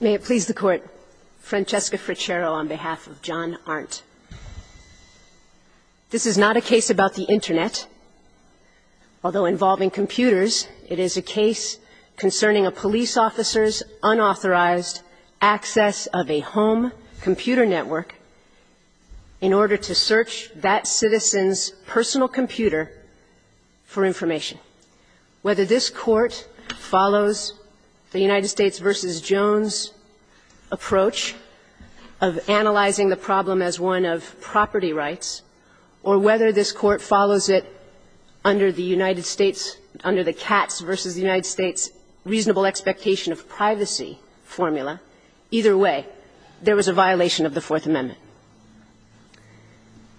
May it please the Court, Francesca Frichero on behalf of John Ahrndt. This is not a case about the Internet. Although involving computers, it is a case concerning a police officer's unauthorized access of a home computer network in order to search that citizen's personal computer for information. Whether this Court follows the United States v. Jones approach of analyzing the problem as one of property rights or whether this Court follows it under the United States, under the Katz v. the United States reasonable expectation of privacy formula, either way, there was a violation of the Fourth Amendment.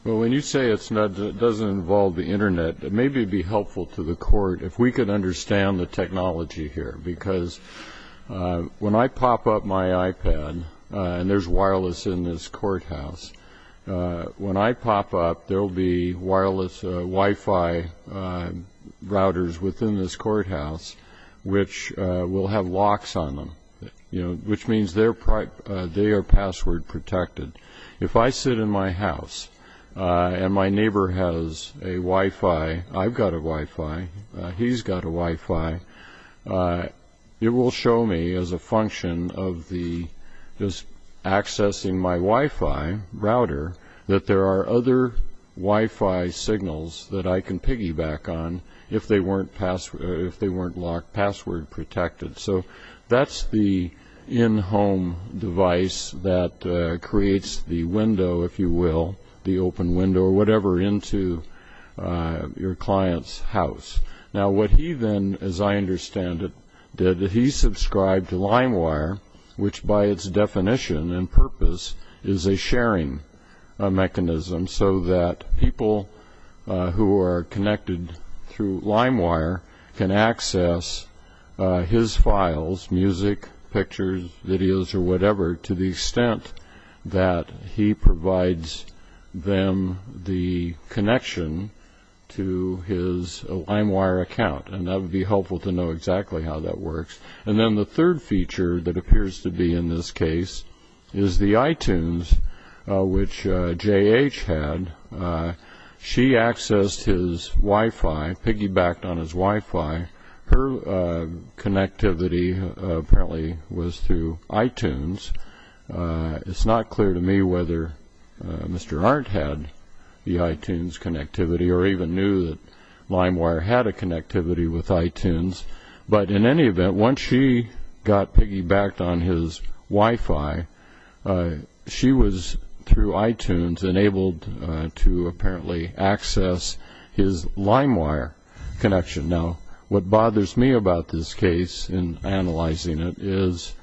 Well, when you say it doesn't involve the Internet, maybe it would be helpful to the Court if we could understand the technology here. Because when I pop up my iPad, and there's wireless in this courthouse, when I pop up, there will be wireless Wi-Fi routers within this courthouse which will have locks on them, which means they are password protected. If I sit in my house and my neighbor has a Wi-Fi, I've got a Wi-Fi, he's got a Wi-Fi, it will show me as a function of just accessing my Wi-Fi router that there are other Wi-Fi signals that I can piggyback on if they weren't password protected. So that's the in-home device that creates the window, if you will, the open window, or whatever, into your client's house. Now what he then, as I understand it, did, he subscribed to LimeWire, which by its definition and purpose is a sharing mechanism so that people who are connected through LimeWire can access his files, music, pictures, videos, or whatever, to the extent that he provides them the connection to his LimeWire account. And that would be helpful to know exactly how that works. And then the third feature that appears to be in this case is the iTunes, which J.H. had. She accessed his Wi-Fi, piggybacked on his Wi-Fi. Her connectivity apparently was through iTunes. It's not clear to me whether Mr. Arndt had the iTunes connectivity or even knew that LimeWire had a connectivity with iTunes. But in any event, once she got piggybacked on his Wi-Fi, she was through iTunes enabled to apparently access his LimeWire connection. Now what bothers me about this case in analyzing it is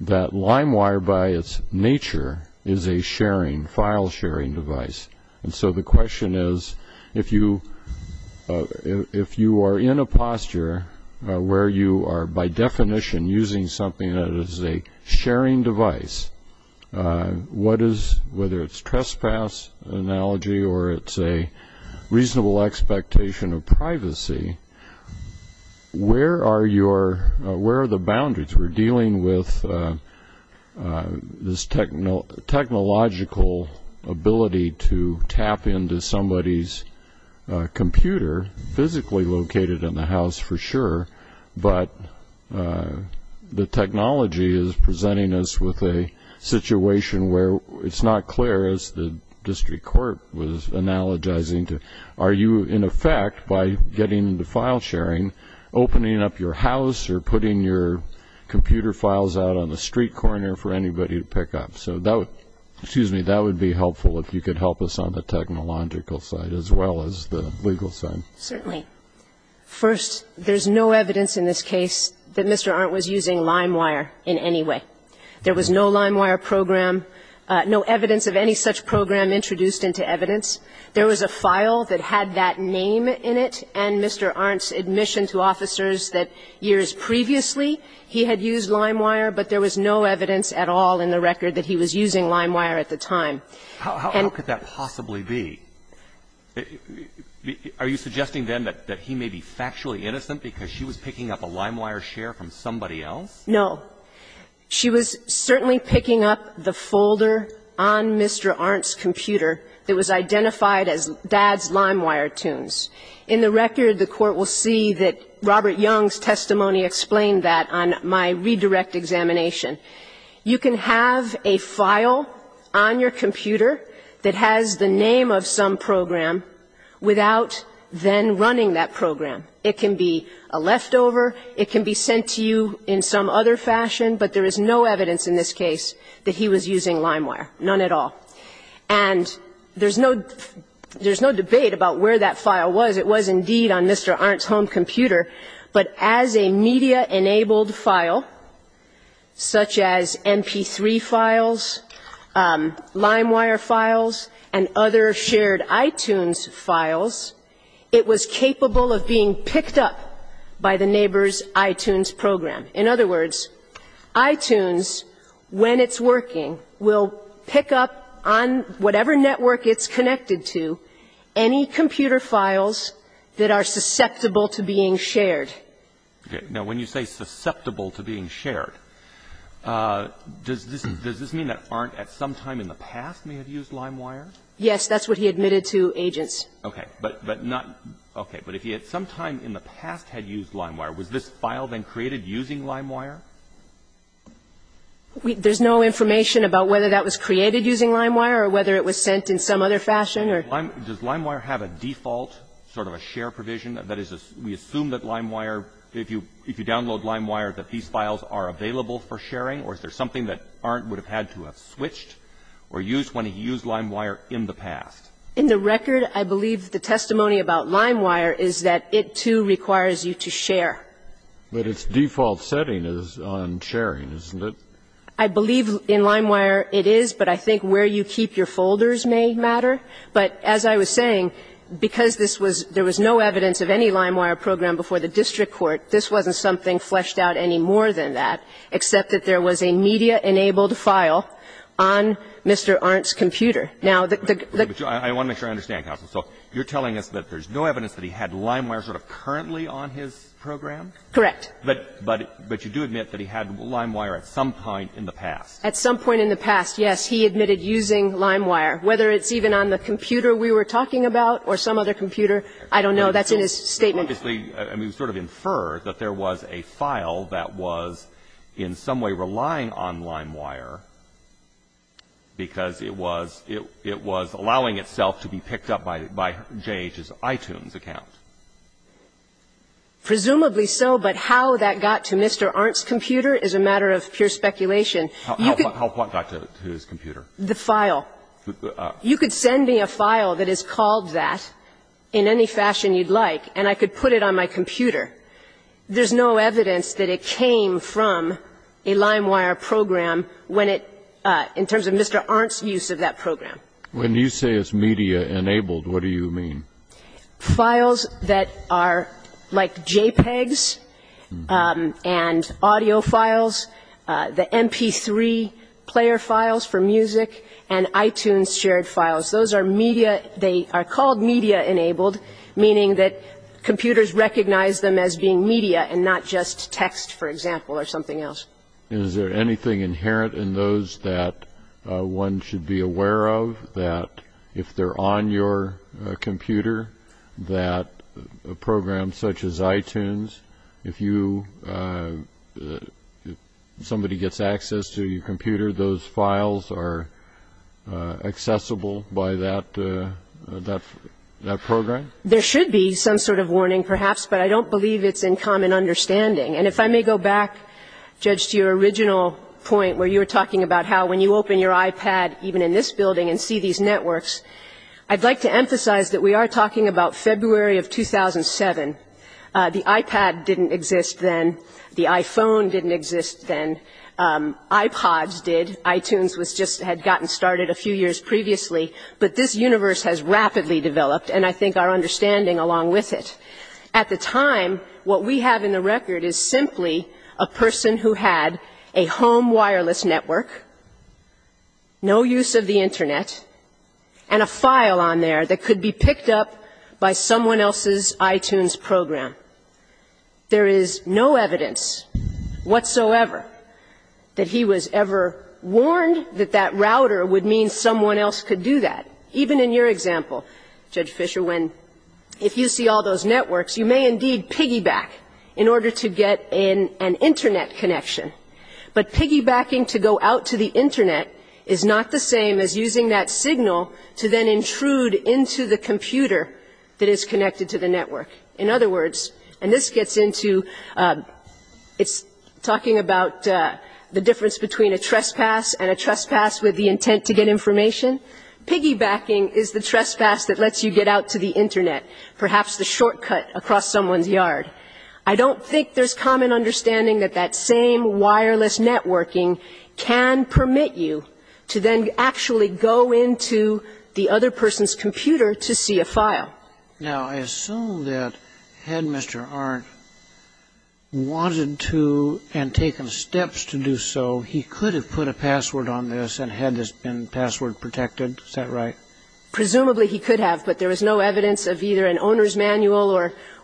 that LimeWire by its nature is a sharing, file sharing device. And so the question is, if you are in a posture where you are by definition using something that is a sharing device, whether it's a trespass analogy or it's a reasonable expectation of privacy, where are the boundaries? We're dealing with this technological ability to tap into somebody's computer, physically located in the house for sure, but the technology is presenting us with a situation where it's not clear, as the district court was analogizing to, are you in effect, by getting into file sharing, opening up your house or putting your computer files out on the street corner for anybody to pick up? So that would be helpful if you could help us on the technological side as well as the legal side. Certainly. First, there's no evidence in this case that Mr. Arndt was using LimeWire in any way. There was no LimeWire program, no evidence of any such program introduced into evidence. There was a file that had that name in it and Mr. Arndt's admission to officers that years previously, he had used LimeWire, but there was no evidence at all in the record that he was using LimeWire at the time. And the question is, how could that possibly be? Are you suggesting, then, that he may be factually innocent because she was picking up a LimeWire share from somebody else? No. She was certainly picking up the folder on Mr. Arndt's computer that was identified as Dad's LimeWire tunes. In the record, the Court will see that Robert Young's testimony explained that on my redirect examination. You can have a file on your computer that has the name of some program without then running that program. It can be a leftover. It can be sent to you in some other fashion. But there is no evidence in this case that he was using LimeWire, none at all. And there's no debate about where that file was. It was indeed on Mr. Arndt's home computer. But as a media-enabled file, such as MP3 files, LimeWire files, and other shared iTunes files, it was capable of being picked up by the neighbor's iTunes program. In other words, iTunes, when it's working, will pick up on whatever network it's connected to any computer files that are susceptible to being shared. Okay. Now, when you say susceptible to being shared, does this mean that Arndt at some time in the past may have used LimeWire? Yes. That's what he admitted to agents. Okay. But not – okay. But if he at some time in the past had used LimeWire, was this file then created using LimeWire? There's no information about whether that was created using LimeWire or whether it was sent in some other fashion or – Does LimeWire have a default sort of a share provision? That is, we assume that LimeWire, if you download LimeWire, that these files are available for sharing? Or is there something that Arndt would have had to have switched or used when he used LimeWire in the past? In the record, I believe the testimony about LimeWire is that it, too, requires you to share. But its default setting is on sharing, isn't it? I believe in LimeWire it is, but I think where you keep your folders may matter. But as I was saying, because this was – there was no evidence of any LimeWire program before the district court, this wasn't something fleshed out any more than that, except that there was a media-enabled file on Mr. Arndt's computer. Now, the – I want to make sure I understand, counsel. So you're telling us that there's no evidence that he had LimeWire sort of currently on his program? Correct. But you do admit that he had LimeWire at some point in the past? At some point in the past, yes. He admitted using LimeWire, whether it's even on the computer we were talking about or some other computer, I don't know. That's in his statement. Obviously, I mean, sort of infer that there was a file that was in some way relying on LimeWire because it was – it was allowing itself to be picked up by J.H.'s iTunes account. Presumably so, but how that got to Mr. Arndt's computer is a matter of pure speculation. How what got to his computer? The file. You could send me a file that is called that in any fashion you'd like, and I could put it on my computer. There's no evidence that it came from a LimeWire program when it – in terms of Mr. Arndt's use of that program. When you say it's media-enabled, what do you mean? Files that are like JPEGs and audio files, the MP3 player files for music, and iTunes shared files. Those are media – they are called media-enabled, meaning that computers recognize them as being media and not just text, for example, or something else. And is there anything inherent in those that one should be aware of, that if they're on your computer, that a program such as iTunes, if you – if somebody gets access to your iPad, even in this building, and see these networks, I'd like to emphasize that we are talking about February of 2007. The iPad didn't exist then. The iPhone didn't exist then. iPods did. iTunes was just – had gotten started a few years previously. The iPod didn't exist then. But this universe has rapidly developed, and I think our understanding along with it. At the time, what we have in the record is simply a person who had a home wireless network, no use of the Internet, and a file on there that could be picked up by someone else's iTunes program. There is no evidence whatsoever that he was ever warned that that router would mean someone else could do that. Even in your example, Judge Fisher, when – if you see all those networks, you may indeed piggyback in order to get an Internet connection. But piggybacking to go out to the Internet is not the same as using that signal to then intrude into the computer that is connected to the network. In other words, and this gets into – it's talking about the difference between a trespass and a trespass with the intent to get information, piggybacking is the trespass that lets you get out to the Internet, perhaps the shortcut across someone's yard. I don't think there's common understanding that that same wireless networking can permit you to then actually go into the other person's computer to see a file. Now, I assume that had Mr. Arndt wanted to and taken steps to do so, he could have put a password on this and had this been password protected. Is that right? Presumably he could have, but there was no evidence of either an owner's manual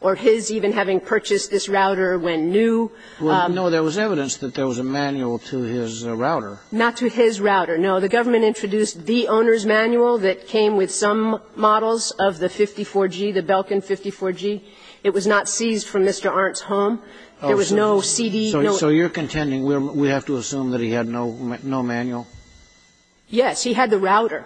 or his even having purchased this router when new. Well, no, there was evidence that there was a manual to his router. Not to his router, no. The government introduced the owner's manual that came with some models of the 54G, the Belkin 54G. It was not seized from Mr. Arndt's home. There was no CD. So you're contending we have to assume that he had no manual? Yes. He had the router.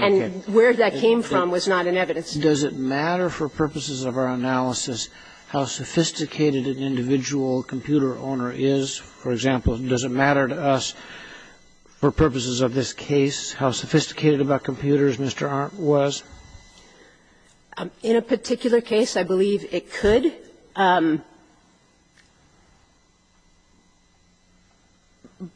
Okay. And where that came from was not in evidence. Does it matter for purposes of our analysis how sophisticated an individual computer owner is? For example, does it matter to us for purposes of this case how sophisticated about computers Mr. Arndt was? In a particular case, I believe it could.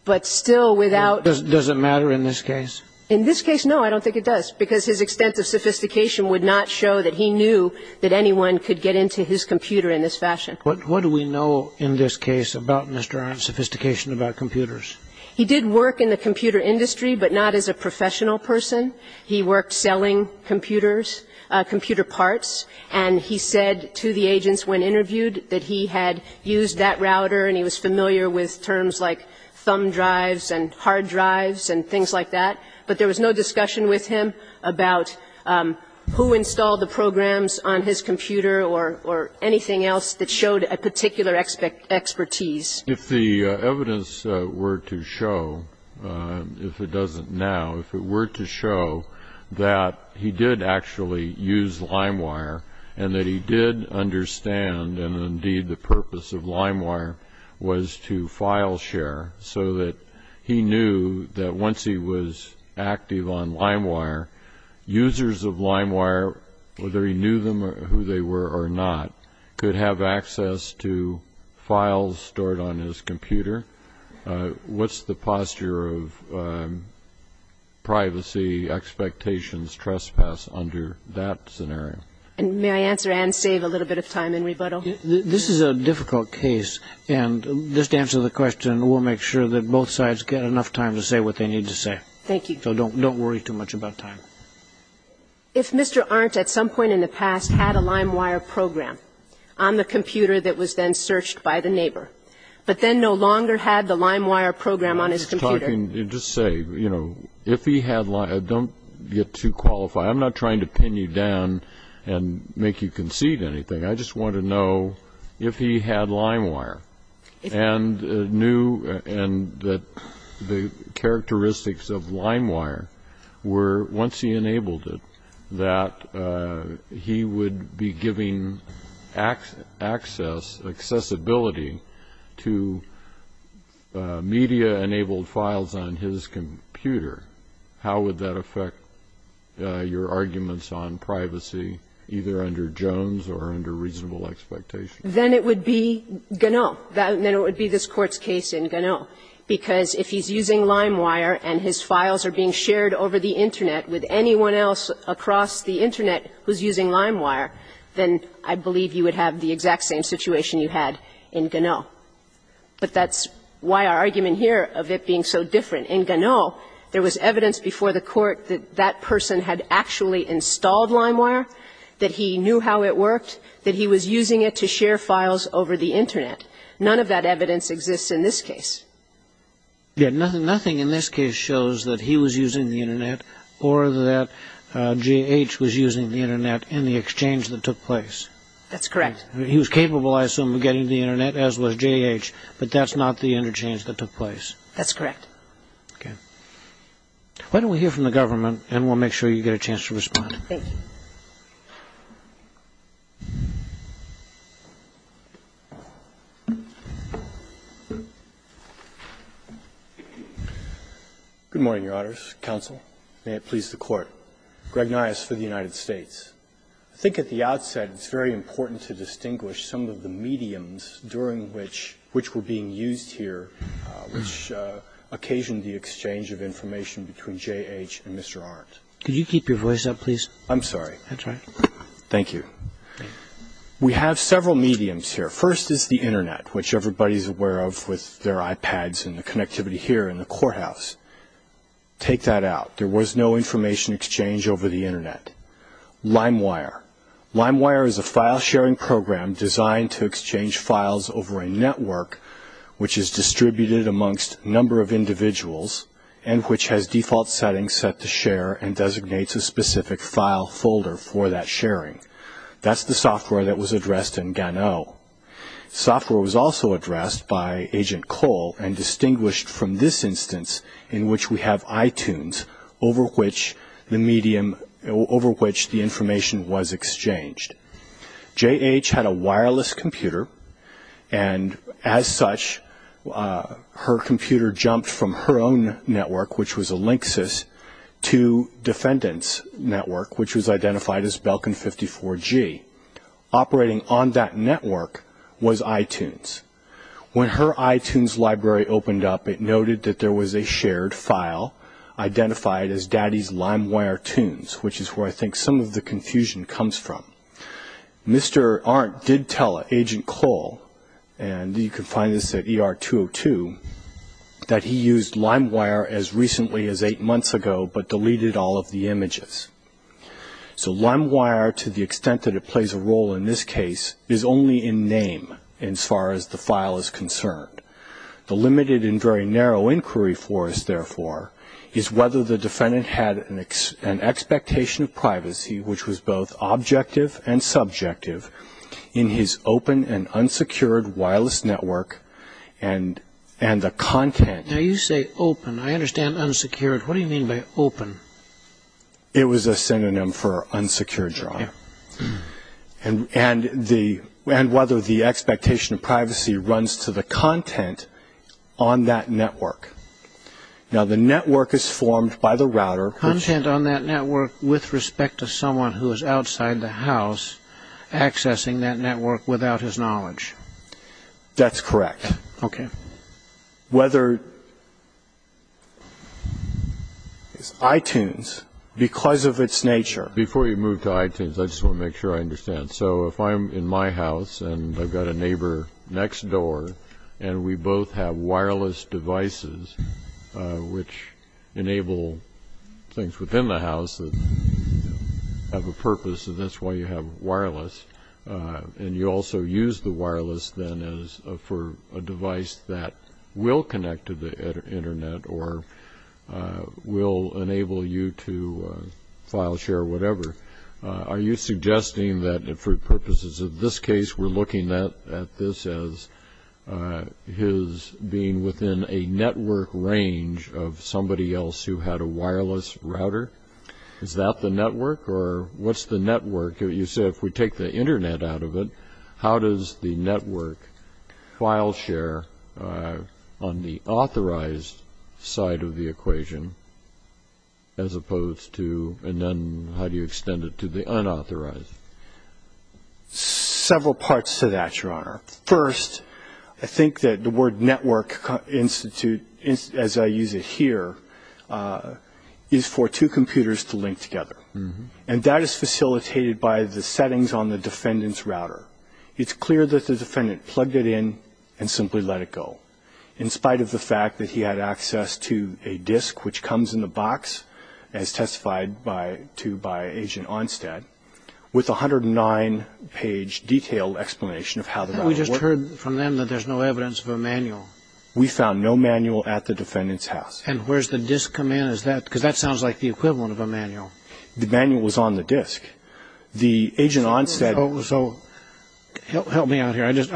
But still without ---- Does it matter in this case? In this case, no, I don't think it does, because his extent of sophistication would not show that he knew that anyone could get into his computer in this fashion. What do we know in this case about Mr. Arndt's sophistication about computers? He did work in the computer industry, but not as a professional person. He worked selling computers, computer parts, and he said to the agents when interviewed that he had used that router and he was familiar with terms like thumb drives and hard drives and things like that. But there was no discussion with him about who installed the programs on his computer or anything else that showed a particular expertise. If the evidence were to show, if it doesn't now, if it were to show that he did actually use LimeWire and that he did understand and indeed the purpose of LimeWire was to file share, so that he knew that once he was active on LimeWire, users of LimeWire, whether he knew them or who they were or not, could have access to files stored on his computer, what's the posture of privacy expectations trespass under that scenario? And may I answer and save a little bit of time in rebuttal? This is a difficult case, and just to answer the question, we'll make sure that both sides get enough time to say what they need to say. Thank you. So don't worry too much about time. If Mr. Arndt at some point in the past had a LimeWire program on the computer that was then searched by the neighbor, but then no longer had the LimeWire program on his computer. I was talking, just to say, you know, if he had LimeWire, don't get too qualified. I'm not trying to pin you down and make you concede anything. I just want to know if he had LimeWire and knew and that the characteristics of LimeWire were, once he enabled it, that he would be giving access, accessibility to media-enabled files on his computer. How would that affect your arguments on privacy, either under Jones or under reasonable expectations? Then it would be Ganon. Then it would be this Court's case in Ganon. Because if he's using LimeWire and his files are being shared over the Internet with anyone else across the Internet who's using LimeWire, then I believe you would have the exact same situation you had in Ganon. But that's why our argument here of it being so different. In Ganon, there was evidence before the Court that that person had actually installed LimeWire, that he knew how it worked, that he was using it to share files over the Internet. None of that evidence exists in this case. Yeah, nothing in this case shows that he was using the Internet or that J.H. was using the Internet in the exchange that took place. That's correct. He was capable, I assume, of getting the Internet, as was J.H., but that's not the interchange that took place. That's correct. Okay. Why don't we hear from the government, and we'll make sure you get a chance to respond. Thank you. Good morning, Your Honors. Counsel. May it please the Court. Greg Niasse for the United States. I think at the outset it's very important to distinguish some of the mediums during which we're being used here which occasioned the exchange of information between J.H. and Mr. Arendt. Could you keep your voice up, please? I'm sorry. That's all right. Thank you. We have several mediums here. The first is the Internet, which everybody's aware of with their iPads and the connectivity here in the courthouse. Take that out. There was no information exchange over the Internet. LimeWire. LimeWire is a file-sharing program designed to exchange files over a network which is distributed amongst a number of individuals and which has default settings set to share and designates a specific file folder for that sharing. That's the software that was addressed in Gano. Software was also addressed by Agent Cole and distinguished from this instance in which we have iTunes over which the information was exchanged. J.H. had a wireless computer, and as such, her computer jumped from her own network, which was a Linksys, to Defendant's network, which was identified as Belkin 54G. Operating on that network was iTunes. When her iTunes library opened up, it noted that there was a shared file identified as Daddy's LimeWire Tunes, which is where I think some of the confusion comes from. Mr. Arendt did tell Agent Cole, and you can find this at ER202, that he used LimeWire as recently as eight months ago, but deleted all of the images. So LimeWire, to the extent that it plays a role in this case, is only in name, as far as the file is concerned. The limited and very narrow inquiry for us, therefore, is whether the defendant had an expectation of privacy which was both objective and subjective in his open and unsecured wireless network and the content. Now, you say open. I understand unsecured. What do you mean by open? It was a synonym for unsecured, Your Honor. And whether the expectation of privacy runs to the content on that network. Now, the network is formed by the router. Content on that network with respect to someone who is outside the house, accessing that network without his knowledge. That's correct. Okay. Whether it's iTunes, because of its nature. Before you move to iTunes, I just want to make sure I understand. So if I'm in my house and I've got a neighbor next door and we both have wireless devices which enable things within the house that have a purpose, and that's why you have wireless, and you also use the wireless, then, as for a device that will connect to the Internet or will enable you to file share whatever, are you suggesting that for purposes of this case we're looking at this as his being within a network range of somebody else who had a wireless router? Is that the network? Or what's the network? You said if we take the Internet out of it, how does the network file share on the authorized side of the equation as opposed to and then how do you extend it to the unauthorized? Several parts to that, Your Honor. First, I think that the word network, as I use it here, is for two computers to link together. And that is facilitated by the settings on the defendant's router. It's clear that the defendant plugged it in and simply let it go, in spite of the fact that he had access to a disk which comes in the box, as testified to by Agent Onstad, with a 109-page detailed explanation of how the router works. We just heard from them that there's no evidence of a manual. We found no manual at the defendant's house. And where's the disk come in? Because that sounds like the equivalent of a manual. The manual was on the disk. The Agent Onstad... So help me out here. This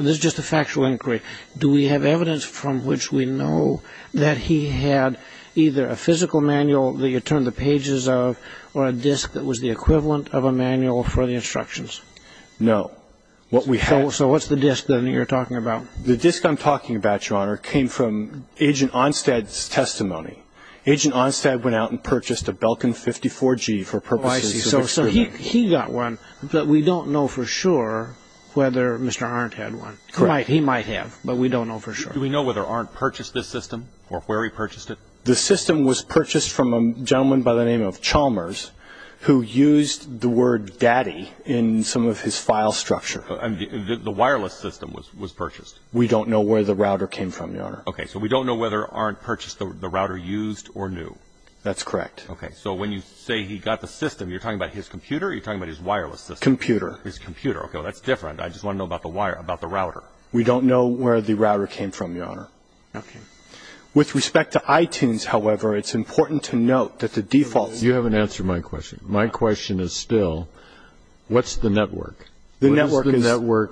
is just a factual inquiry. Do we have evidence from which we know that he had either a physical manual that you turned the pages of or a disk that was the equivalent of a manual for the instructions? No. So what's the disk that you're talking about? The disk I'm talking about, Your Honor, came from Agent Onstad's testimony. Agent Onstad went out and purchased a Belkin 54G for purposes of... Oh, I see. So he got one, but we don't know for sure whether Mr. Arndt had one. He might have, but we don't know for sure. Do we know whether Arndt purchased this system or where he purchased it? The system was purchased from a gentleman by the name of Chalmers, who used the word daddy in some of his file structure. And the wireless system was purchased? We don't know where the router came from, Your Honor. Okay, so we don't know whether Arndt purchased the router used or new. That's correct. Okay, so when you say he got the system, you're talking about his computer or you're talking about his wireless system? Computer. His computer. Okay, well, that's different. I just want to know about the router. We don't know where the router came from, Your Honor. Okay. With respect to iTunes, however, it's important to note that the default... You haven't answered my question. My question is still, what's the network? The network is...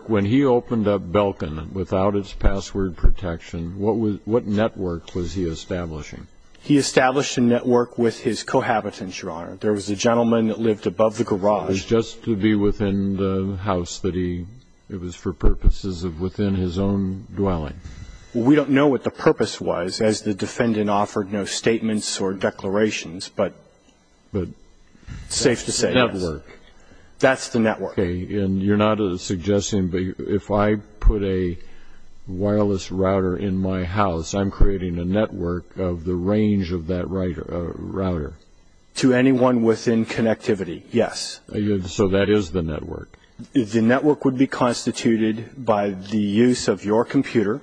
When he opened up Belkin without its password protection, what network was he establishing? He established a network with his cohabitants, Your Honor. There was a gentleman that lived above the garage. It was just to be within the house that he... It was for purposes of within his own dwelling. Well, we don't know what the purpose was, as the defendant offered no statements or declarations, but it's safe to say, yes. The network. That's the network. Okay, and you're not suggesting... If I put a wireless router in my house, I'm creating a network of the range of that router. To anyone within connectivity, yes. So that is the network. The network would be constituted by the use of your computer,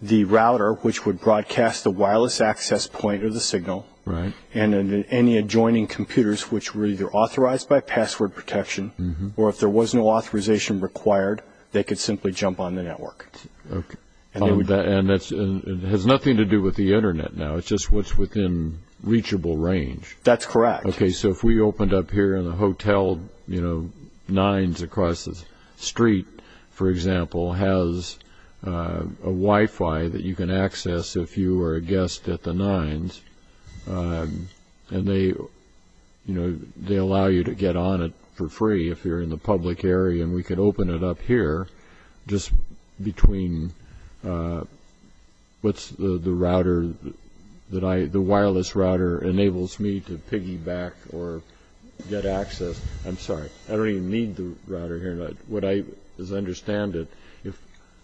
the router, which would broadcast the wireless access point or the signal, and any adjoining computers, which were either authorized by password protection, or if there was no authorization required, they could simply jump on the network. Okay. And it has nothing to do with the Internet now. It's just what's within reachable range. That's correct. Okay, so if we opened up here in the hotel, you know, 9's across the street, for example, has a Wi-Fi that you can access if you were a guest at the 9's, and they allow you to get on it for free if you're in the public area, and we could open it up here just between what's the router that I... I'm sorry. I don't even need the router here. What I understand,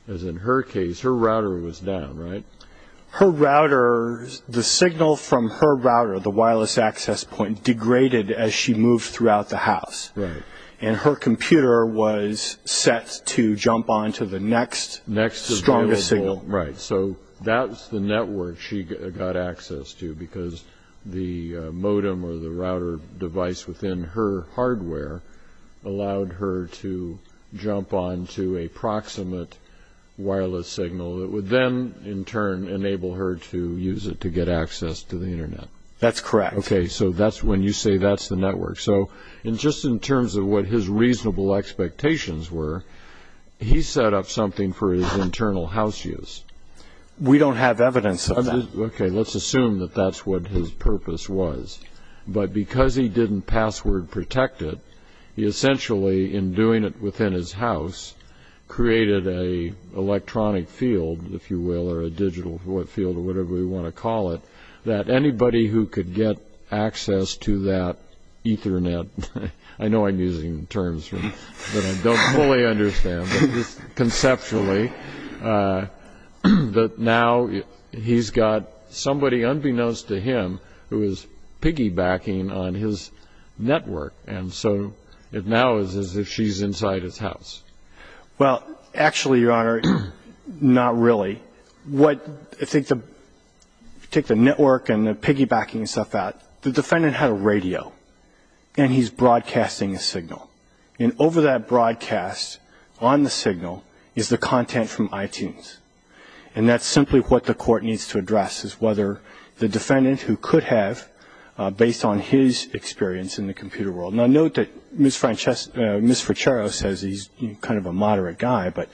as in her case, her router was down, right? Her router, the signal from her router, the wireless access point, degraded as she moved throughout the house. Right. And her computer was set to jump onto the next strongest signal. Right. And so that's the network she got access to because the modem or the router device within her hardware allowed her to jump onto a proximate wireless signal that would then, in turn, enable her to use it to get access to the Internet. That's correct. Okay, so that's when you say that's the network. So just in terms of what his reasonable expectations were, he set up something for his internal house use. We don't have evidence of that. Okay, let's assume that that's what his purpose was. But because he didn't password protect it, he essentially, in doing it within his house, created an electronic field, if you will, or a digital field or whatever you want to call it, that anybody who could get access to that Ethernet, I know I'm using terms that I don't fully understand, but just conceptually, that now he's got somebody, unbeknownst to him, who is piggybacking on his network. And so it now is as if she's inside his house. Well, actually, Your Honor, not really. If you take the network and the piggybacking stuff out, the defendant had a radio, and he's broadcasting a signal. And over that broadcast, on the signal, is the content from iTunes. And that's simply what the court needs to address, is whether the defendant who could have, based on his experience in the computer world. Now, note that Ms. Frachero says he's kind of a moderate guy, but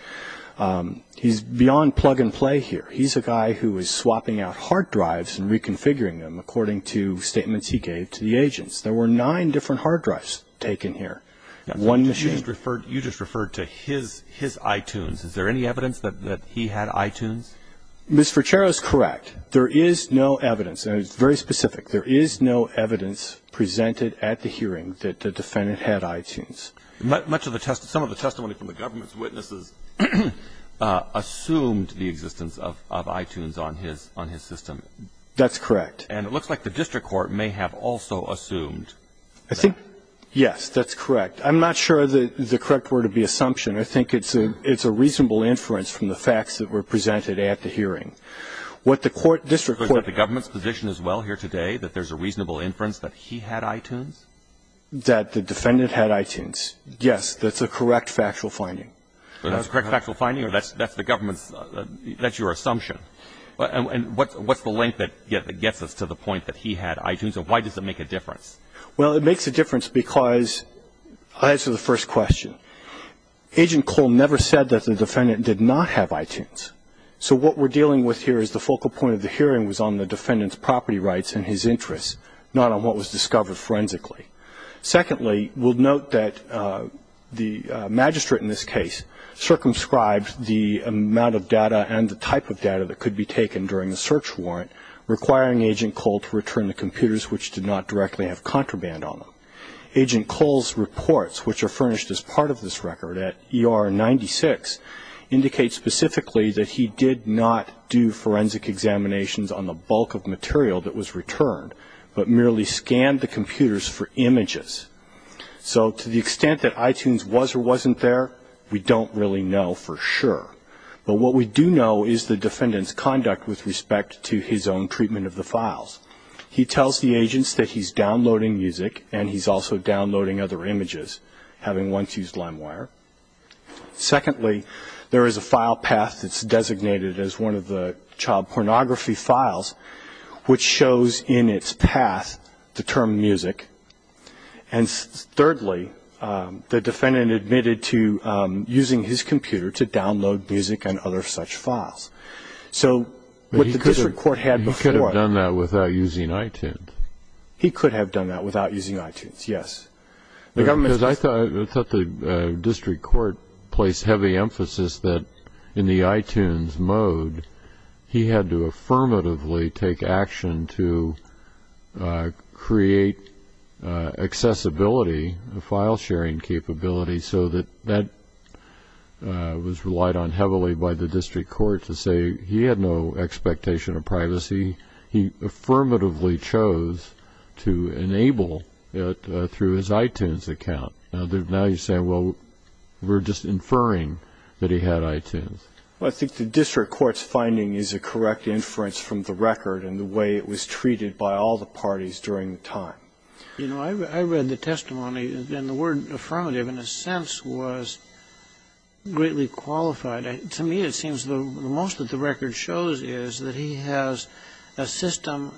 he's beyond plug and play here. He's a guy who is swapping out hard drives and reconfiguring them, according to statements he gave to the agents. There were nine different hard drives taken here, one machine. You just referred to his iTunes. Is there any evidence that he had iTunes? Ms. Frachero is correct. There is no evidence, and it's very specific. There is no evidence presented at the hearing that the defendant had iTunes. Some of the testimony from the government's witnesses assumed the existence of iTunes on his system. That's correct. And it looks like the district court may have also assumed that. I think, yes, that's correct. I'm not sure that the correct word would be assumption. I think it's a reasonable inference from the facts that were presented at the hearing. What the court, district court. Is it the government's position as well here today that there's a reasonable inference that he had iTunes? That the defendant had iTunes. Yes, that's a correct factual finding. That's a correct factual finding, or that's the government's, that's your assumption? And what's the link that gets us to the point that he had iTunes, and why does it make a difference? Well, it makes a difference because, I'll answer the first question. Agent Cole never said that the defendant did not have iTunes. So what we're dealing with here is the focal point of the hearing was on the defendant's property rights and his interests, not on what was discovered forensically. Secondly, we'll note that the magistrate in this case circumscribed the amount of data and the type of data that could be taken during the search warrant, requiring Agent Cole to return the computers which did not directly have contraband on them. Agent Cole's reports, which are furnished as part of this record at ER 96, indicate specifically that he did not do forensic examinations on the bulk of material that was returned, but merely scanned the computers for images. So to the extent that iTunes was or wasn't there, we don't really know for sure. But what we do know is the defendant's conduct with respect to his own treatment of the files. He tells the agents that he's downloading music, and he's also downloading other images, having once used LimeWire. Secondly, there is a file path that's designated as one of the child pornography files, which shows in its path the term music. And thirdly, the defendant admitted to using his computer to download music and other such files. So what the district court had before. But he could have done that without using iTunes. He could have done that without using iTunes, yes. I thought the district court placed heavy emphasis that in the iTunes mode, he had to affirmatively take action to create accessibility, file sharing capability, so that that was relied on heavily by the district court to say he had no expectation of privacy. He affirmatively chose to enable it through his iTunes account. Now you're saying, well, we're just inferring that he had iTunes. Well, I think the district court's finding is a correct inference from the record and the way it was treated by all the parties during the time. You know, I read the testimony, and the word affirmative, in a sense, was greatly qualified. To me, it seems the most that the record shows is that he has a system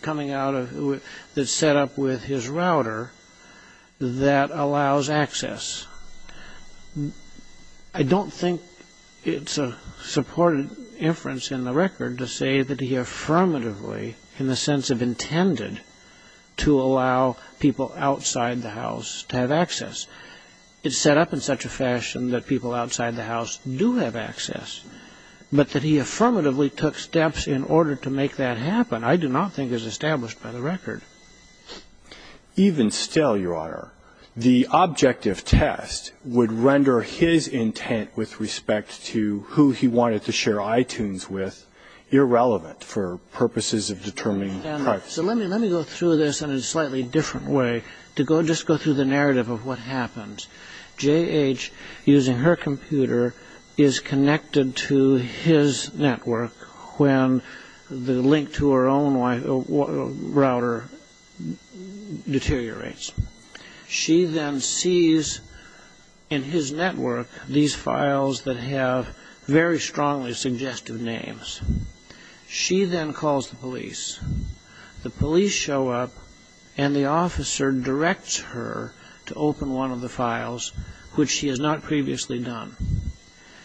coming out of it that's set up with his router that allows access. I don't think it's a supported inference in the record to say that he affirmatively, in the sense of intended, to allow people outside the house to have access. It's set up in such a fashion that people outside the house do have access, but that he affirmatively took steps in order to make that happen, I do not think is established by the record. Even still, Your Honor, the objective test would render his intent with respect to who he wanted to share iTunes with irrelevant for purposes of determining privacy. So let me go through this in a slightly different way, to just go through the narrative of what happens. J.H., using her computer, is connected to his network when the link to her own router deteriorates. She then sees in his network these files that have very strongly suggestive names. She then calls the police. The police show up, and the officer directs her to open one of the files, which she has not previously done.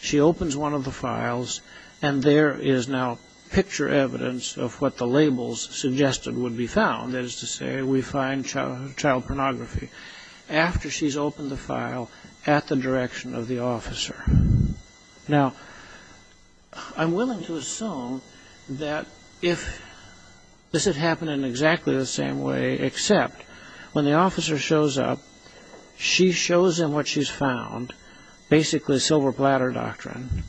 She opens one of the files, and there is now picture evidence of what the labels suggested would be found, that is to say, we find child pornography, after she's opened the file at the direction of the officer. Now, I'm willing to assume that if this had happened in exactly the same way, except when the officer shows up, she shows him what she's found, basically silver platter doctrine.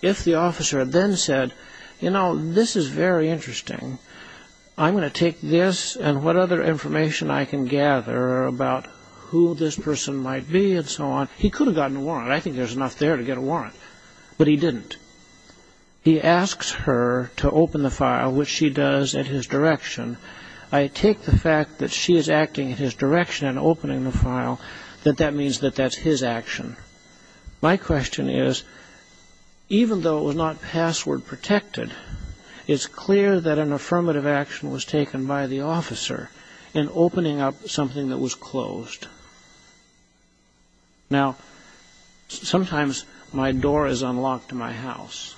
If the officer had then said, you know, this is very interesting, I'm going to take this and what other information I can gather about who this person might be and so on, he could have gotten a warrant. I think there's enough there to get a warrant. But he didn't. He asks her to open the file, which she does at his direction. I take the fact that she is acting at his direction and opening the file, that that means that that's his action. My question is, even though it was not password protected, it's clear that an affirmative action was taken by the officer in opening up something that was closed. Now, sometimes my door is unlocked in my house.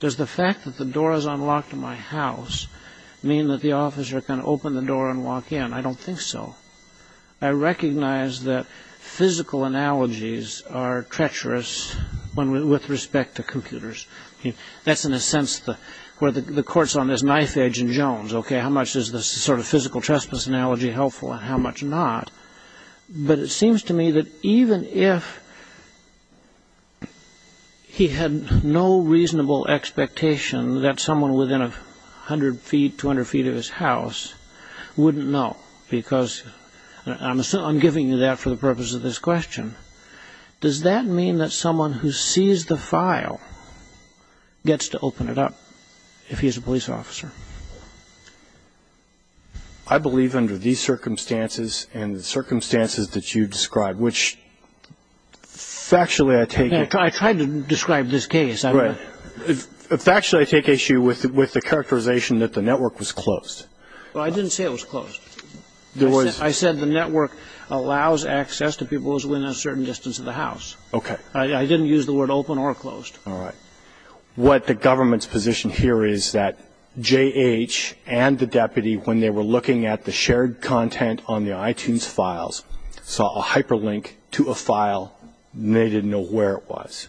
Does the fact that the door is unlocked in my house mean that the officer can open the door and walk in? I don't think so. I recognize that physical analogies are treacherous with respect to computers. That's in a sense where the court's on this knife edge in Jones. OK, how much is this sort of physical trespass analogy helpful and how much not? But it seems to me that even if he had no reasonable expectation that someone within 100 feet, 200 feet of his house wouldn't know, because I'm giving you that for the purpose of this question, does that mean that someone who sees the file gets to open it up if he is a police officer? I believe under these circumstances and the circumstances that you describe, which factually I take it. I tried to describe this case. Factually, I take issue with the characterization that the network was closed. Well, I didn't say it was closed. I said the network allows access to people within a certain distance of the house. I didn't use the word open or closed. All right. What the government's position here is that J.H. and the deputy, when they were looking at the shared content on the iTunes files, saw a hyperlink to a file. They didn't know where it was.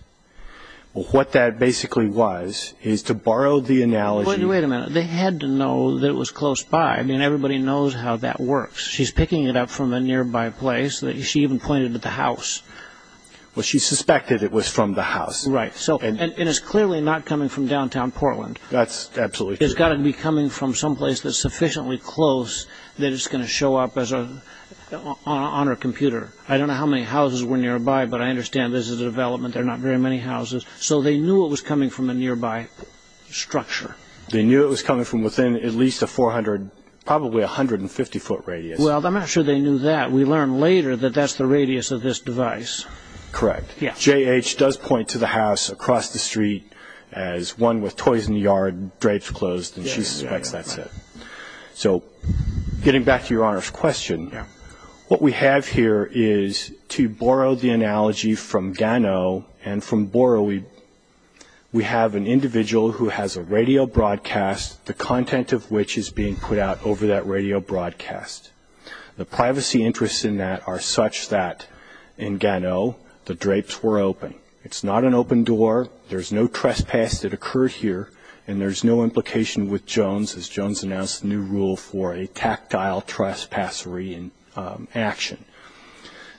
What that basically was is to borrow the analogy. Wait a minute. They had to know that it was close by. I mean, everybody knows how that works. She's picking it up from a nearby place. She even pointed at the house. Well, she suspected it was from the house. Right. And it's clearly not coming from downtown Portland. That's absolutely true. It's got to be coming from someplace that's sufficiently close that it's going to show up on her computer. I don't know how many houses were nearby, but I understand this is a development. There are not very many houses. So they knew it was coming from a nearby structure. They knew it was coming from within at least a 400, probably 150-foot radius. Well, I'm not sure they knew that. We learned later that that's the radius of this device. Correct. J.H. does point to the house across the street as one with toys in the yard, drapes closed, and she suspects that's it. So getting back to Your Honor's question, what we have here is, to borrow the analogy from Gano, and from Boro, we have an individual who has a radio broadcast, the content of which is being put out over that radio broadcast. The privacy interests in that are such that, in Gano, the drapes were open. It's not an open door. There's no trespass that occurred here, and there's no implication with Jones, as Jones announced a new rule for a tactile trespass action.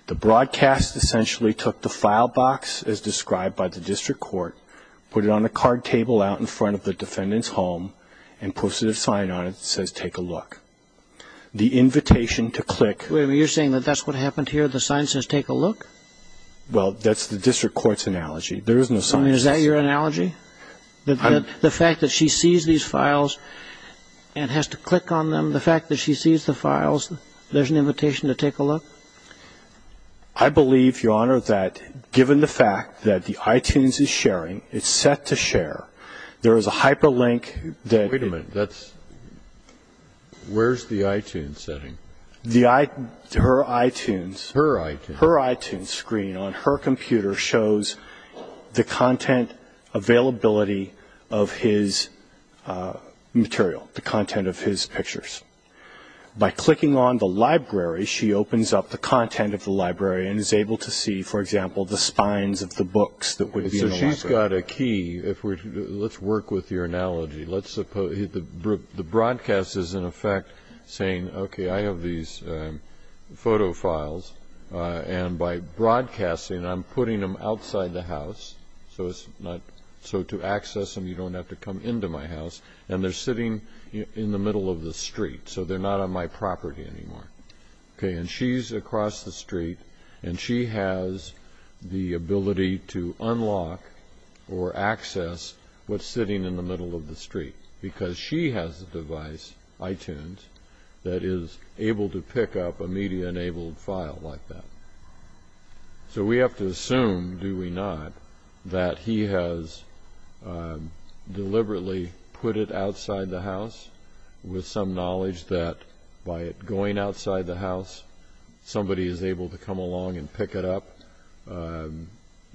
The broadcast essentially took the file box as described by the district court, put it on a card table out in front of the defendant's home, and posted a sign on it that says, Take a look. The invitation to click. Wait a minute. You're saying that that's what happened here? The sign says, Take a look? Well, that's the district court's analogy. There is no sign. I mean, is that your analogy? The fact that she sees these files and has to click on them, the fact that she sees the files, there's an invitation to take a look? I believe, Your Honor, that given the fact that the iTunes is sharing, it's set to share. There is a hyperlink that – Wait a minute. Where's the iTunes setting? Her iTunes. Her iTunes. Her iTunes screen on her computer shows the content availability of his material, the content of his pictures. By clicking on the library, she opens up the content of the library and is able to see, for example, the spines of the books that would be in the library. So she's got a key. Let's work with your analogy. The broadcast is, in effect, saying, Okay, I have these photo files, and by broadcasting I'm putting them outside the house so to access them you don't have to come into my house, and they're sitting in the middle of the street, so they're not on my property anymore. Okay, and she's across the street, and she has the ability to unlock or access what's sitting in the middle of the street because she has a device, iTunes, that is able to pick up a media-enabled file like that. So we have to assume, do we not, that he has deliberately put it outside the house with some knowledge that by it going outside the house somebody is able to come along and pick it up.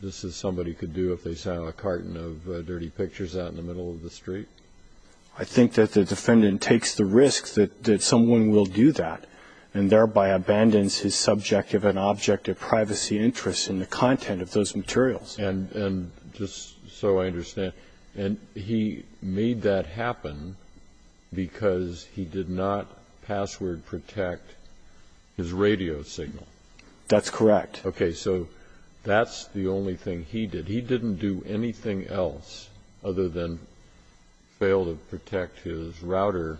This is somebody could do if they saw a carton of dirty pictures out in the middle of the street. I think that the defendant takes the risk that someone will do that and thereby abandons his subjective and objective privacy interests in the content of those materials. And just so I understand, he made that happen because he did not password protect his radio signal. That's correct. Okay, so that's the only thing he did. He didn't do anything else other than fail to protect his router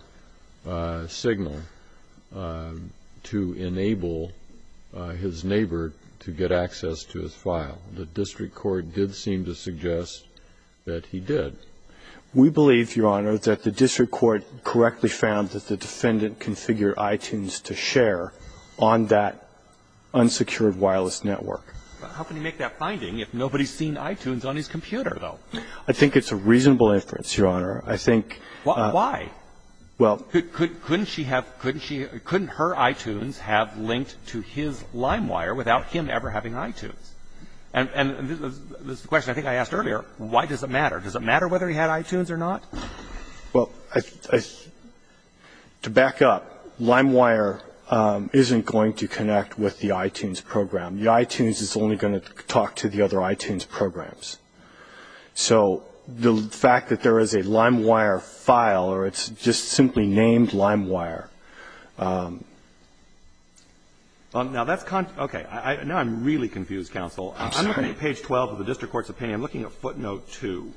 signal to enable his neighbor to get access to his file. The district court did seem to suggest that he did. We believe, Your Honor, that the district court correctly found that the defendant configured iTunes to share on that unsecured wireless network. How can he make that finding if nobody has seen iTunes on his computer, though? I think it's a reasonable inference, Your Honor. I think why? Well, couldn't she have, couldn't her iTunes have linked to his LimeWire without him ever having iTunes? And this is the question I think I asked earlier. Why does it matter? Does it matter whether he had iTunes or not? Well, to back up, LimeWire isn't going to connect with the iTunes program. The iTunes is only going to talk to the other iTunes programs. So the fact that there is a LimeWire file or it's just simply named LimeWire. Now, that's, okay. Now I'm really confused, counsel. I'm looking at page 12 of the district court's opinion. I'm looking at footnote 2.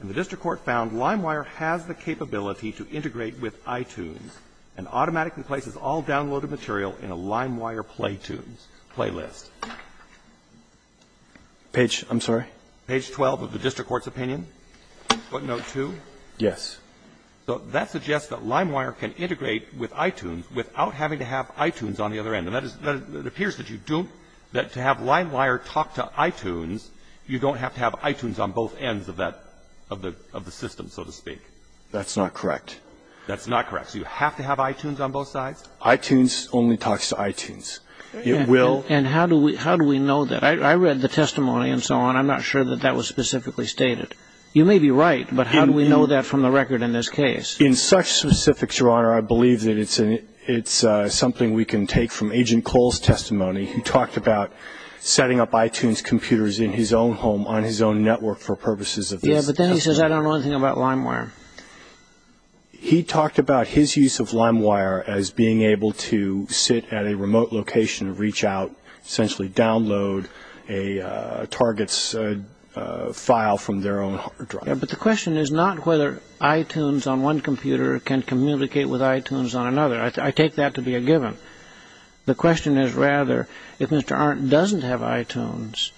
And the district court found LimeWire has the capability to integrate with iTunes and automatically places all downloaded material in a LimeWire play tunes, playlist. Page, I'm sorry? Page 12 of the district court's opinion, footnote 2. Yes. So that suggests that LimeWire can integrate with iTunes without having to have iTunes on the other end. And that is, it appears that you don't, that to have LimeWire talk to iTunes, you don't have to have iTunes on both ends of that, of the system, so to speak. That's not correct. That's not correct. So you have to have iTunes on both sides? iTunes only talks to iTunes. It will. And how do we know that? I read the testimony and so on. I'm not sure that that was specifically stated. You may be right, but how do we know that from the record in this case? In such specifics, Your Honor, I believe that it's something we can take from Agent Cole's testimony. He talked about setting up iTunes computers in his own home on his own network for purposes of this. Yes, but then he says, I don't know anything about LimeWire. He talked about his use of LimeWire as being able to sit at a remote location, reach out, essentially download a target's file from their own hard drive. But the question is not whether iTunes on one computer can communicate with iTunes on another. I take that to be a given. The question is rather, if Mr. Arndt doesn't have iTunes,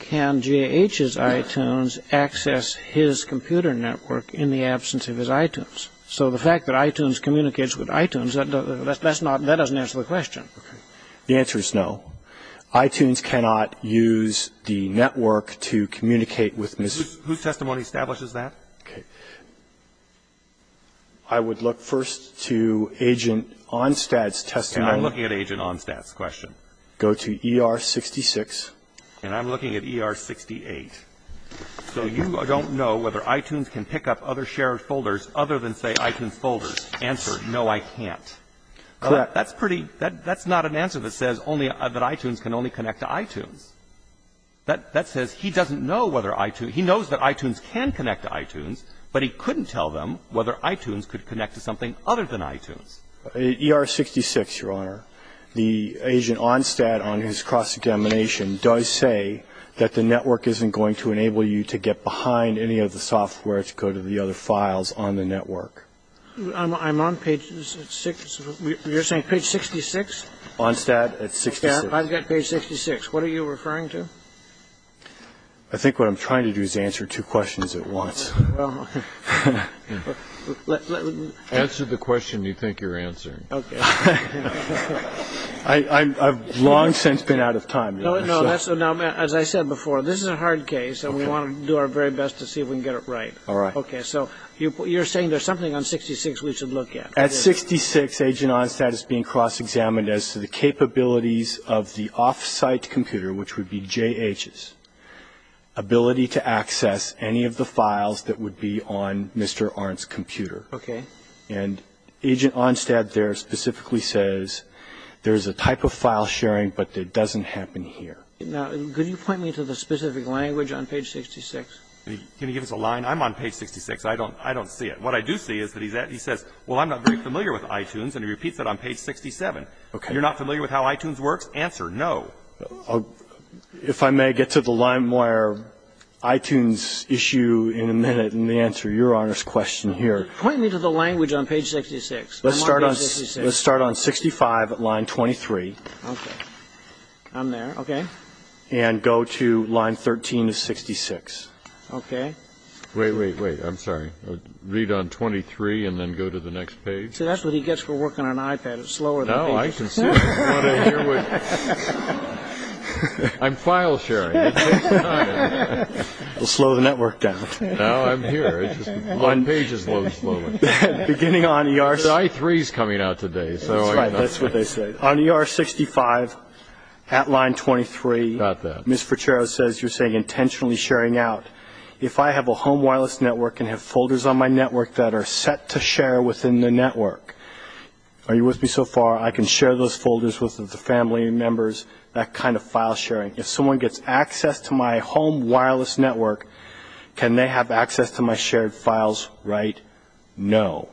can G.A.H.'s iTunes access his computer network in the absence of his iTunes? So the fact that iTunes communicates with iTunes, that doesn't answer the question. The answer is no. iTunes cannot use the network to communicate with Mr. Arndt. Whose testimony establishes that? I would look first to Agent Onstad's testimony. I'm looking at Agent Onstad's question. Go to ER-66. And I'm looking at ER-68. So you don't know whether iTunes can pick up other shared folders other than, say, iTunes folders. Answer, no, I can't. That's pretty – that's not an answer that says only – that iTunes can only connect to iTunes. That says he doesn't know whether iTunes – he knows that iTunes can connect to iTunes, but he couldn't tell them whether iTunes could connect to something other than iTunes. ER-66, Your Honor. The Agent Onstad, on his cross-examination, does say that the network isn't going to enable you to get behind any of the software to go to the other files on the network. I'm on page – you're saying page 66? Onstad at 66. I've got page 66. What are you referring to? I think what I'm trying to do is answer two questions at once. Answer the question you think you're answering. Okay. I've long since been out of time. No, no, that's – as I said before, this is a hard case, and we want to do our very best to see if we can get it right. All right. Okay, so you're saying there's something on 66 we should look at. At 66, Agent Onstad is being cross-examined as to the capabilities of the off-site computer, which would be JHS, ability to access any of the files that would be on Mr. Arndt's computer. Okay. And Agent Onstad there specifically says there's a type of file sharing, but it doesn't happen here. Now, could you point me to the specific language on page 66? Can you give us a line? I'm on page 66. I don't see it. What I do see is that he says, well, I'm not very familiar with iTunes, and he repeats it on page 67. Okay. You're not familiar with how iTunes works? Answer no. If I may get to the LimeWire iTunes issue in a minute and answer Your Honor's question here. Point me to the language on page 66. I'm on page 66. Let's start on 65, line 23. Okay. I'm there. Okay. And go to line 13 of 66. Okay. Wait, wait, wait. I'm sorry. Read on 23 and then go to the next page? See, that's what he gets for working on an iPad. It's slower than a page. No, I can see it. I'm file sharing. It takes time. It'll slow the network down. No, I'm here. One page is loading slowly. Beginning on ER 65. I3 is coming out today. That's right. That's what they say. On ER 65 at line 23, Ms. Ferchero says you're saying intentionally sharing out. If I have a home wireless network and have folders on my network that are set to share within the network, are you with me so far? I can share those folders with the family members, that kind of file sharing. If someone gets access to my home wireless network, can they have access to my shared files? Right? No.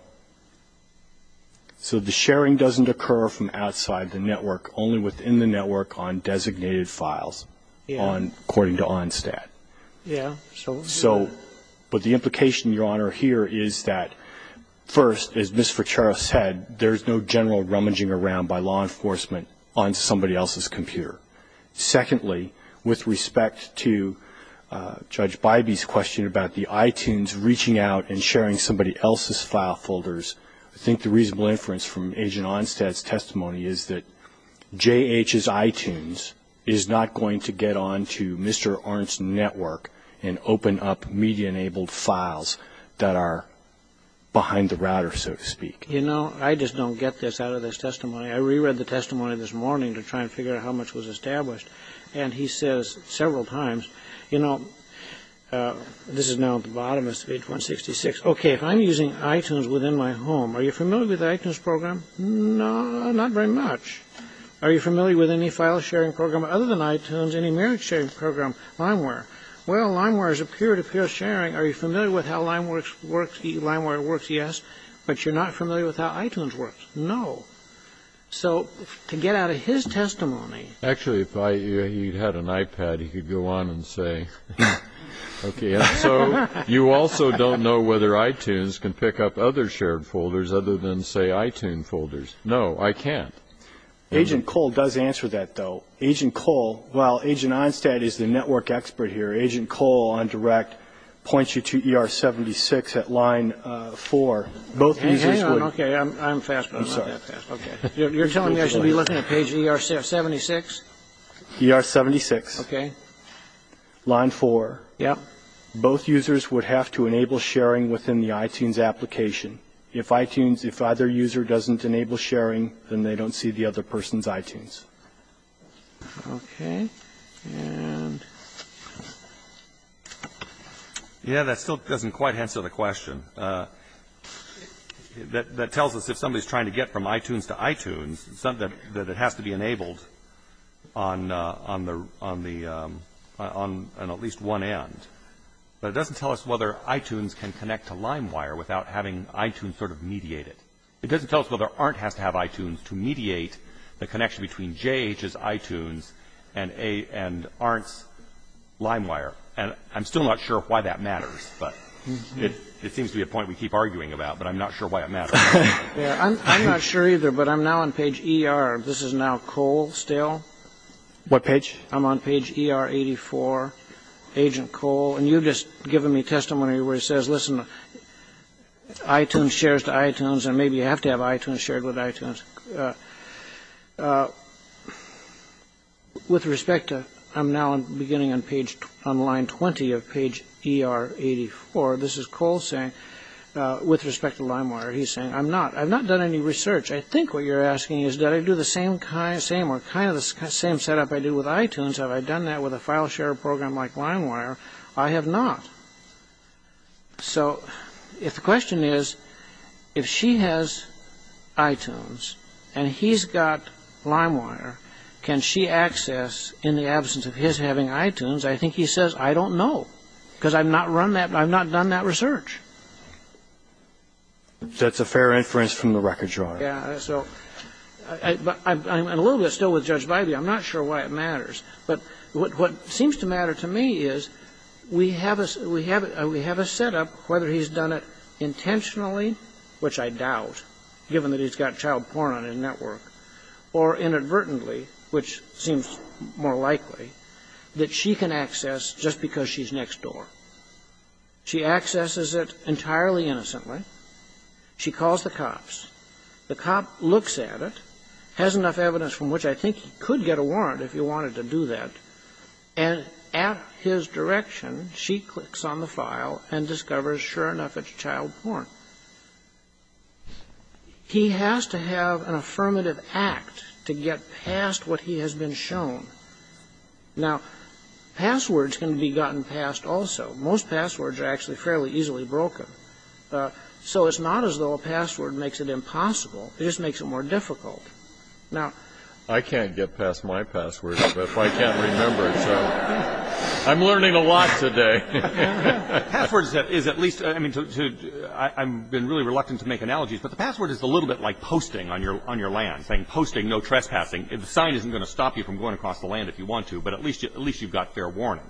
So the sharing doesn't occur from outside the network, only within the network on designated files according to ONSTAT. Yeah. But the implication, Your Honor, here is that, first, as Ms. Ferchero said, there's no general rummaging around by law enforcement on somebody else's computer. Secondly, with respect to Judge Bybee's question about the iTunes reaching out and sharing somebody else's file folders, I think the reasonable inference from Agent Onstat's testimony is that J.H.'s iTunes is not going to get on to Mr. Orn's network and open up media-enabled files that are behind the router, so to speak. You know, I just don't get this out of this testimony. I reread the testimony this morning to try and figure out how much was established, and he says several times, you know, this is now at the bottom of page 166, okay, if I'm using iTunes within my home, are you familiar with the iTunes program? No, not very much. Are you familiar with any file-sharing program other than iTunes, any marriage-sharing program, LimeWire? Well, LimeWire is a peer-to-peer sharing. Are you familiar with how LimeWire works? Yes. But you're not familiar with how iTunes works? No. So to get out of his testimony. Actually, if he had an iPad, he could go on and say, okay, and so you also don't know whether iTunes can pick up other shared folders other than, say, iTunes folders. No, I can't. Agent Cole does answer that, though. Agent Cole, well, Agent Onstad is the network expert here. Agent Cole, on direct, points you to ER-76 at line 4. Hang on, okay, I'm fast, but I'm not that fast. I'm sorry. Okay. You're telling me I should be looking at page ER-76? ER-76. Okay. Line 4. Yep. Both users would have to enable sharing within the iTunes application. If iTunes, if either user doesn't enable sharing, then they don't see the other person's iTunes. Okay, and... Yeah, that still doesn't quite answer the question. That tells us if somebody's trying to get from iTunes to iTunes, that it has to be enabled on at least one end. But it doesn't tell us whether iTunes can connect to LimeWire without having iTunes sort of mediate it. It doesn't tell us whether ARNT has to have iTunes to mediate the connection between JH's iTunes and ARNT's LimeWire. And I'm still not sure why that matters, but it seems to be a point we keep arguing about, but I'm not sure why it matters. Yeah, I'm not sure either, but I'm now on page ER. This is now Cole still. What page? I'm on page ER 84, Agent Cole. And you've just given me testimony where he says, listen, iTunes shares to iTunes, and maybe you have to have iTunes shared with iTunes. With respect to, I'm now beginning on line 20 of page ER 84. This is Cole saying, with respect to LimeWire, he's saying, I'm not, I've not done any research. I think what you're asking is, did I do the same kind, same or kind of the same setup I do with iTunes? Have I done that with a file share program like LimeWire? I have not. So if the question is, if she has iTunes and he's got LimeWire, can she access, in the absence of his having iTunes, I think he says, I don't know, because I've not run that, I've not done that research. That's a fair inference from the record drawer. Yeah. So I'm a little bit still with Judge Bybee. I'm not sure why it matters. But what seems to matter to me is we have a setup, whether he's done it intentionally, which I doubt, given that he's got child porn on his network, or inadvertently, which seems more likely, that she can access just because she's next door. She accesses it entirely innocently. She calls the cops. The cop looks at it, has enough evidence from which I think he could get a warrant if he wanted to do that, and at his direction, she clicks on the file and discovers, sure enough, it's child porn. He has to have an affirmative act to get past what he has been shown. Now, passwords can be gotten past also. Most passwords are actually fairly easily broken. So it's not as though a password makes it impossible. It just makes it more difficult. Now, I can't get past my password, but I can't remember it. So I'm learning a lot today. Passwords is at least, I mean, I've been really reluctant to make analogies, but the password is a little bit like posting on your land, saying, posting, no trespassing. The sign isn't going to stop you from going across the land if you want to, but at least you've got fair warning.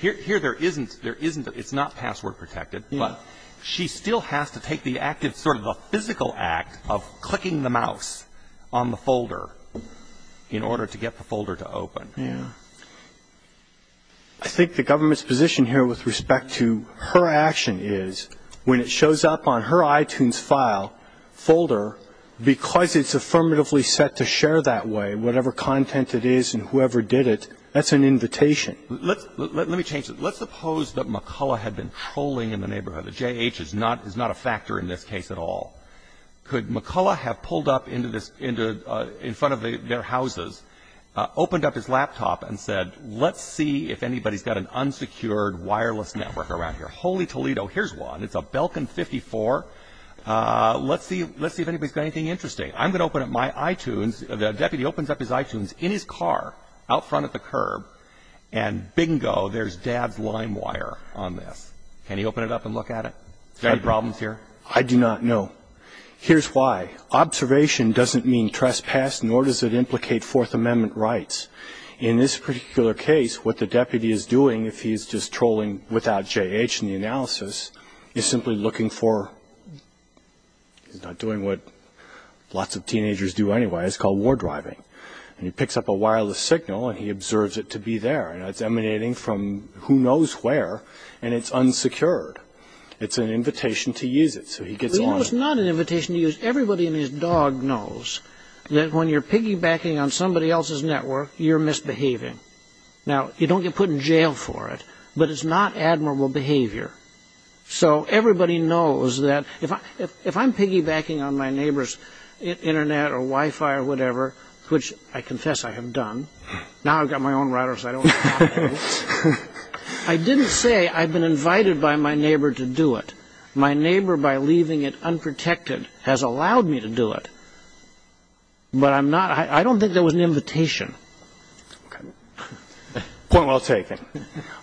Here there isn't. There isn't. It's not password protected. But she still has to take the active sort of the physical act of clicking the mouse on the folder in order to get the folder to open. Yeah. I think the government's position here with respect to her action is when it shows up on her iTunes file folder, because it's affirmatively set to share that way, whatever content it is and whoever did it, that's an invitation. Let me change it. Let's suppose that McCullough had been trolling in the neighborhood. The JH is not a factor in this case at all. Could McCullough have pulled up in front of their houses, opened up his laptop and said, let's see if anybody's got an unsecured wireless network around here. Holy Toledo, here's one. It's a Belkin 54. Let's see if anybody's got anything interesting. I'm going to open up my iTunes. The deputy opens up his iTunes in his car out front at the curb, and bingo, there's dad's line wire on this. Can he open it up and look at it? Any problems here? I do not know. Here's why. Observation doesn't mean trespass, nor does it implicate Fourth Amendment rights. In this particular case, what the deputy is doing, if he's just trolling without JH in the analysis, is simply looking for – he's not doing what lots of teenagers do anyway. It's called war driving. And he picks up a wireless signal and he observes it to be there. And it's emanating from who knows where, and it's unsecured. It's an invitation to use it. It's not an invitation to use. Everybody and his dog knows that when you're piggybacking on somebody else's network, you're misbehaving. Now, you don't get put in jail for it, but it's not admirable behavior. So everybody knows that if I'm piggybacking on my neighbor's Internet or Wi-Fi or whatever, which I confess I have done – now I've got my own router so I don't have to do it – I didn't say I've been invited by my neighbor to do it. My neighbor, by leaving it unprotected, has allowed me to do it. But I'm not – I don't think that was an invitation. Point well taken.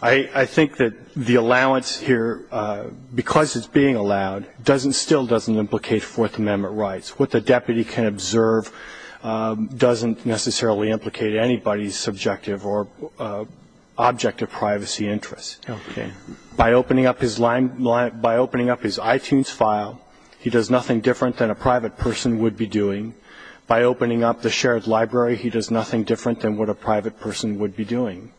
I think that the allowance here, because it's being allowed, still doesn't implicate Fourth Amendment rights. What the deputy can observe doesn't necessarily implicate anybody's subjective or objective privacy interests. Okay. By opening up his iTunes file, he does nothing different than a private person would be doing. By opening up the shared library, he does nothing different than what a private person would be doing.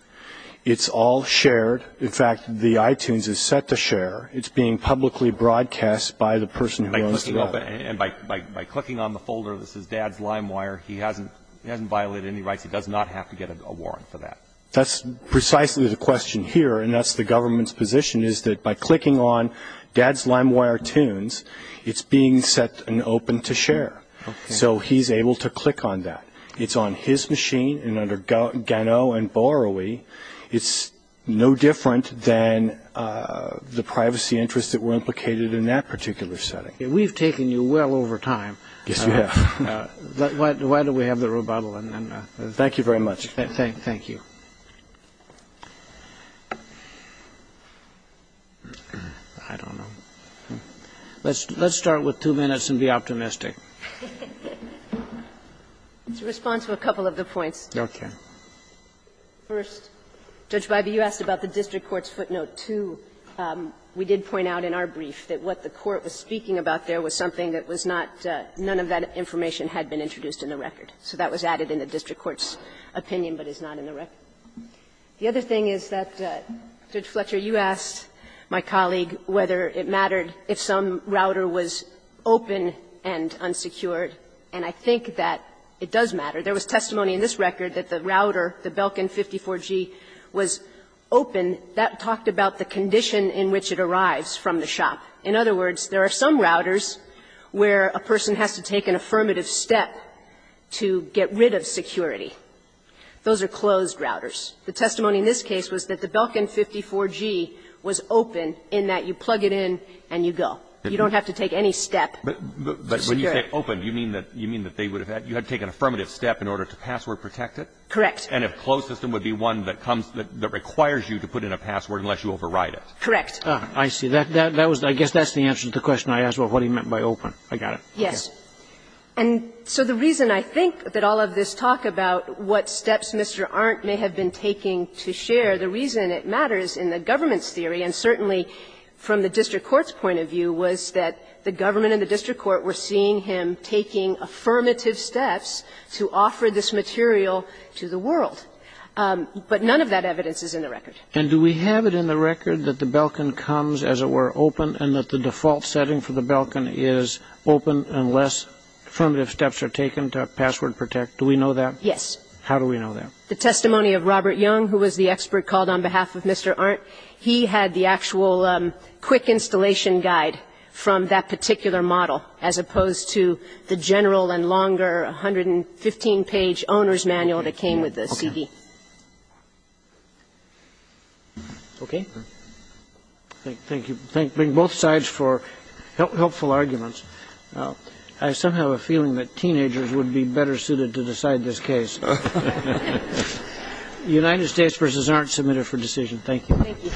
It's all shared. In fact, the iTunes is set to share. It's being publicly broadcast by the person who owns the web. And by clicking on the folder that says Dad's LimeWire, he hasn't violated any rights. He does not have to get a warrant for that. That's precisely the question here, and that's the government's position, is that by clicking on Dad's LimeWire Tunes, it's being set and open to share. So he's able to click on that. It's on his machine, and under Gano and Borowie, it's no different than the privacy interests that were implicated in that particular setting. We've taken you well over time. Yes, you have. Why don't we have the rebuttal? Thank you very much. Thank you. I don't know. Let's start with two minutes and be optimistic. It's a response to a couple of the points. Okay. First, Judge Biby, you asked about the district court's footnote 2. We did point out in our brief that what the court was speaking about there was something that was not none of that information had been introduced in the record. So that was added in the district court's opinion, but is not in the record. The other thing is that, Judge Fletcher, you asked my colleague whether it mattered if some router was open and unsecured, and I think that it does matter. There was testimony in this record that the router, the Belkin 54G, was open. That talked about the condition in which it arrives from the shop. In other words, there are some routers where a person has to take an affirmative step to get rid of security. Those are closed routers. The testimony in this case was that the Belkin 54G was open in that you plug it in and you go. You don't have to take any step to secure it. But when you say open, you mean that they would have had to take an affirmative step in order to password protect it? Correct. And a closed system would be one that comes, that requires you to put in a password unless you override it. Correct. I see. That was, I guess that's the answer to the question I asked about what he meant by open. I got it. Yes. And so the reason I think that all of this talk about what steps Mr. Arndt may have been taking to share, the reason it matters in the government's theory, and certainly from the district court's point of view, was that the government and the district court were seeing him taking affirmative steps to offer this material to the world. But none of that evidence is in the record. And do we have it in the record that the Belkin comes, as it were, open, and that the default setting for the Belkin is open unless affirmative steps are taken to password protect? Do we know that? Yes. How do we know that? The testimony of Robert Young, who was the expert called on behalf of Mr. Arndt, he had the actual quick installation guide from that particular model, as opposed to the general and longer 115-page owner's manual that came with the CD. Okay? Thank you. Thank both sides for helpful arguments. I somehow have a feeling that teenagers would be better suited to decide this case. The United States versus Arndt, submitted for decision. Thank you. Thank you.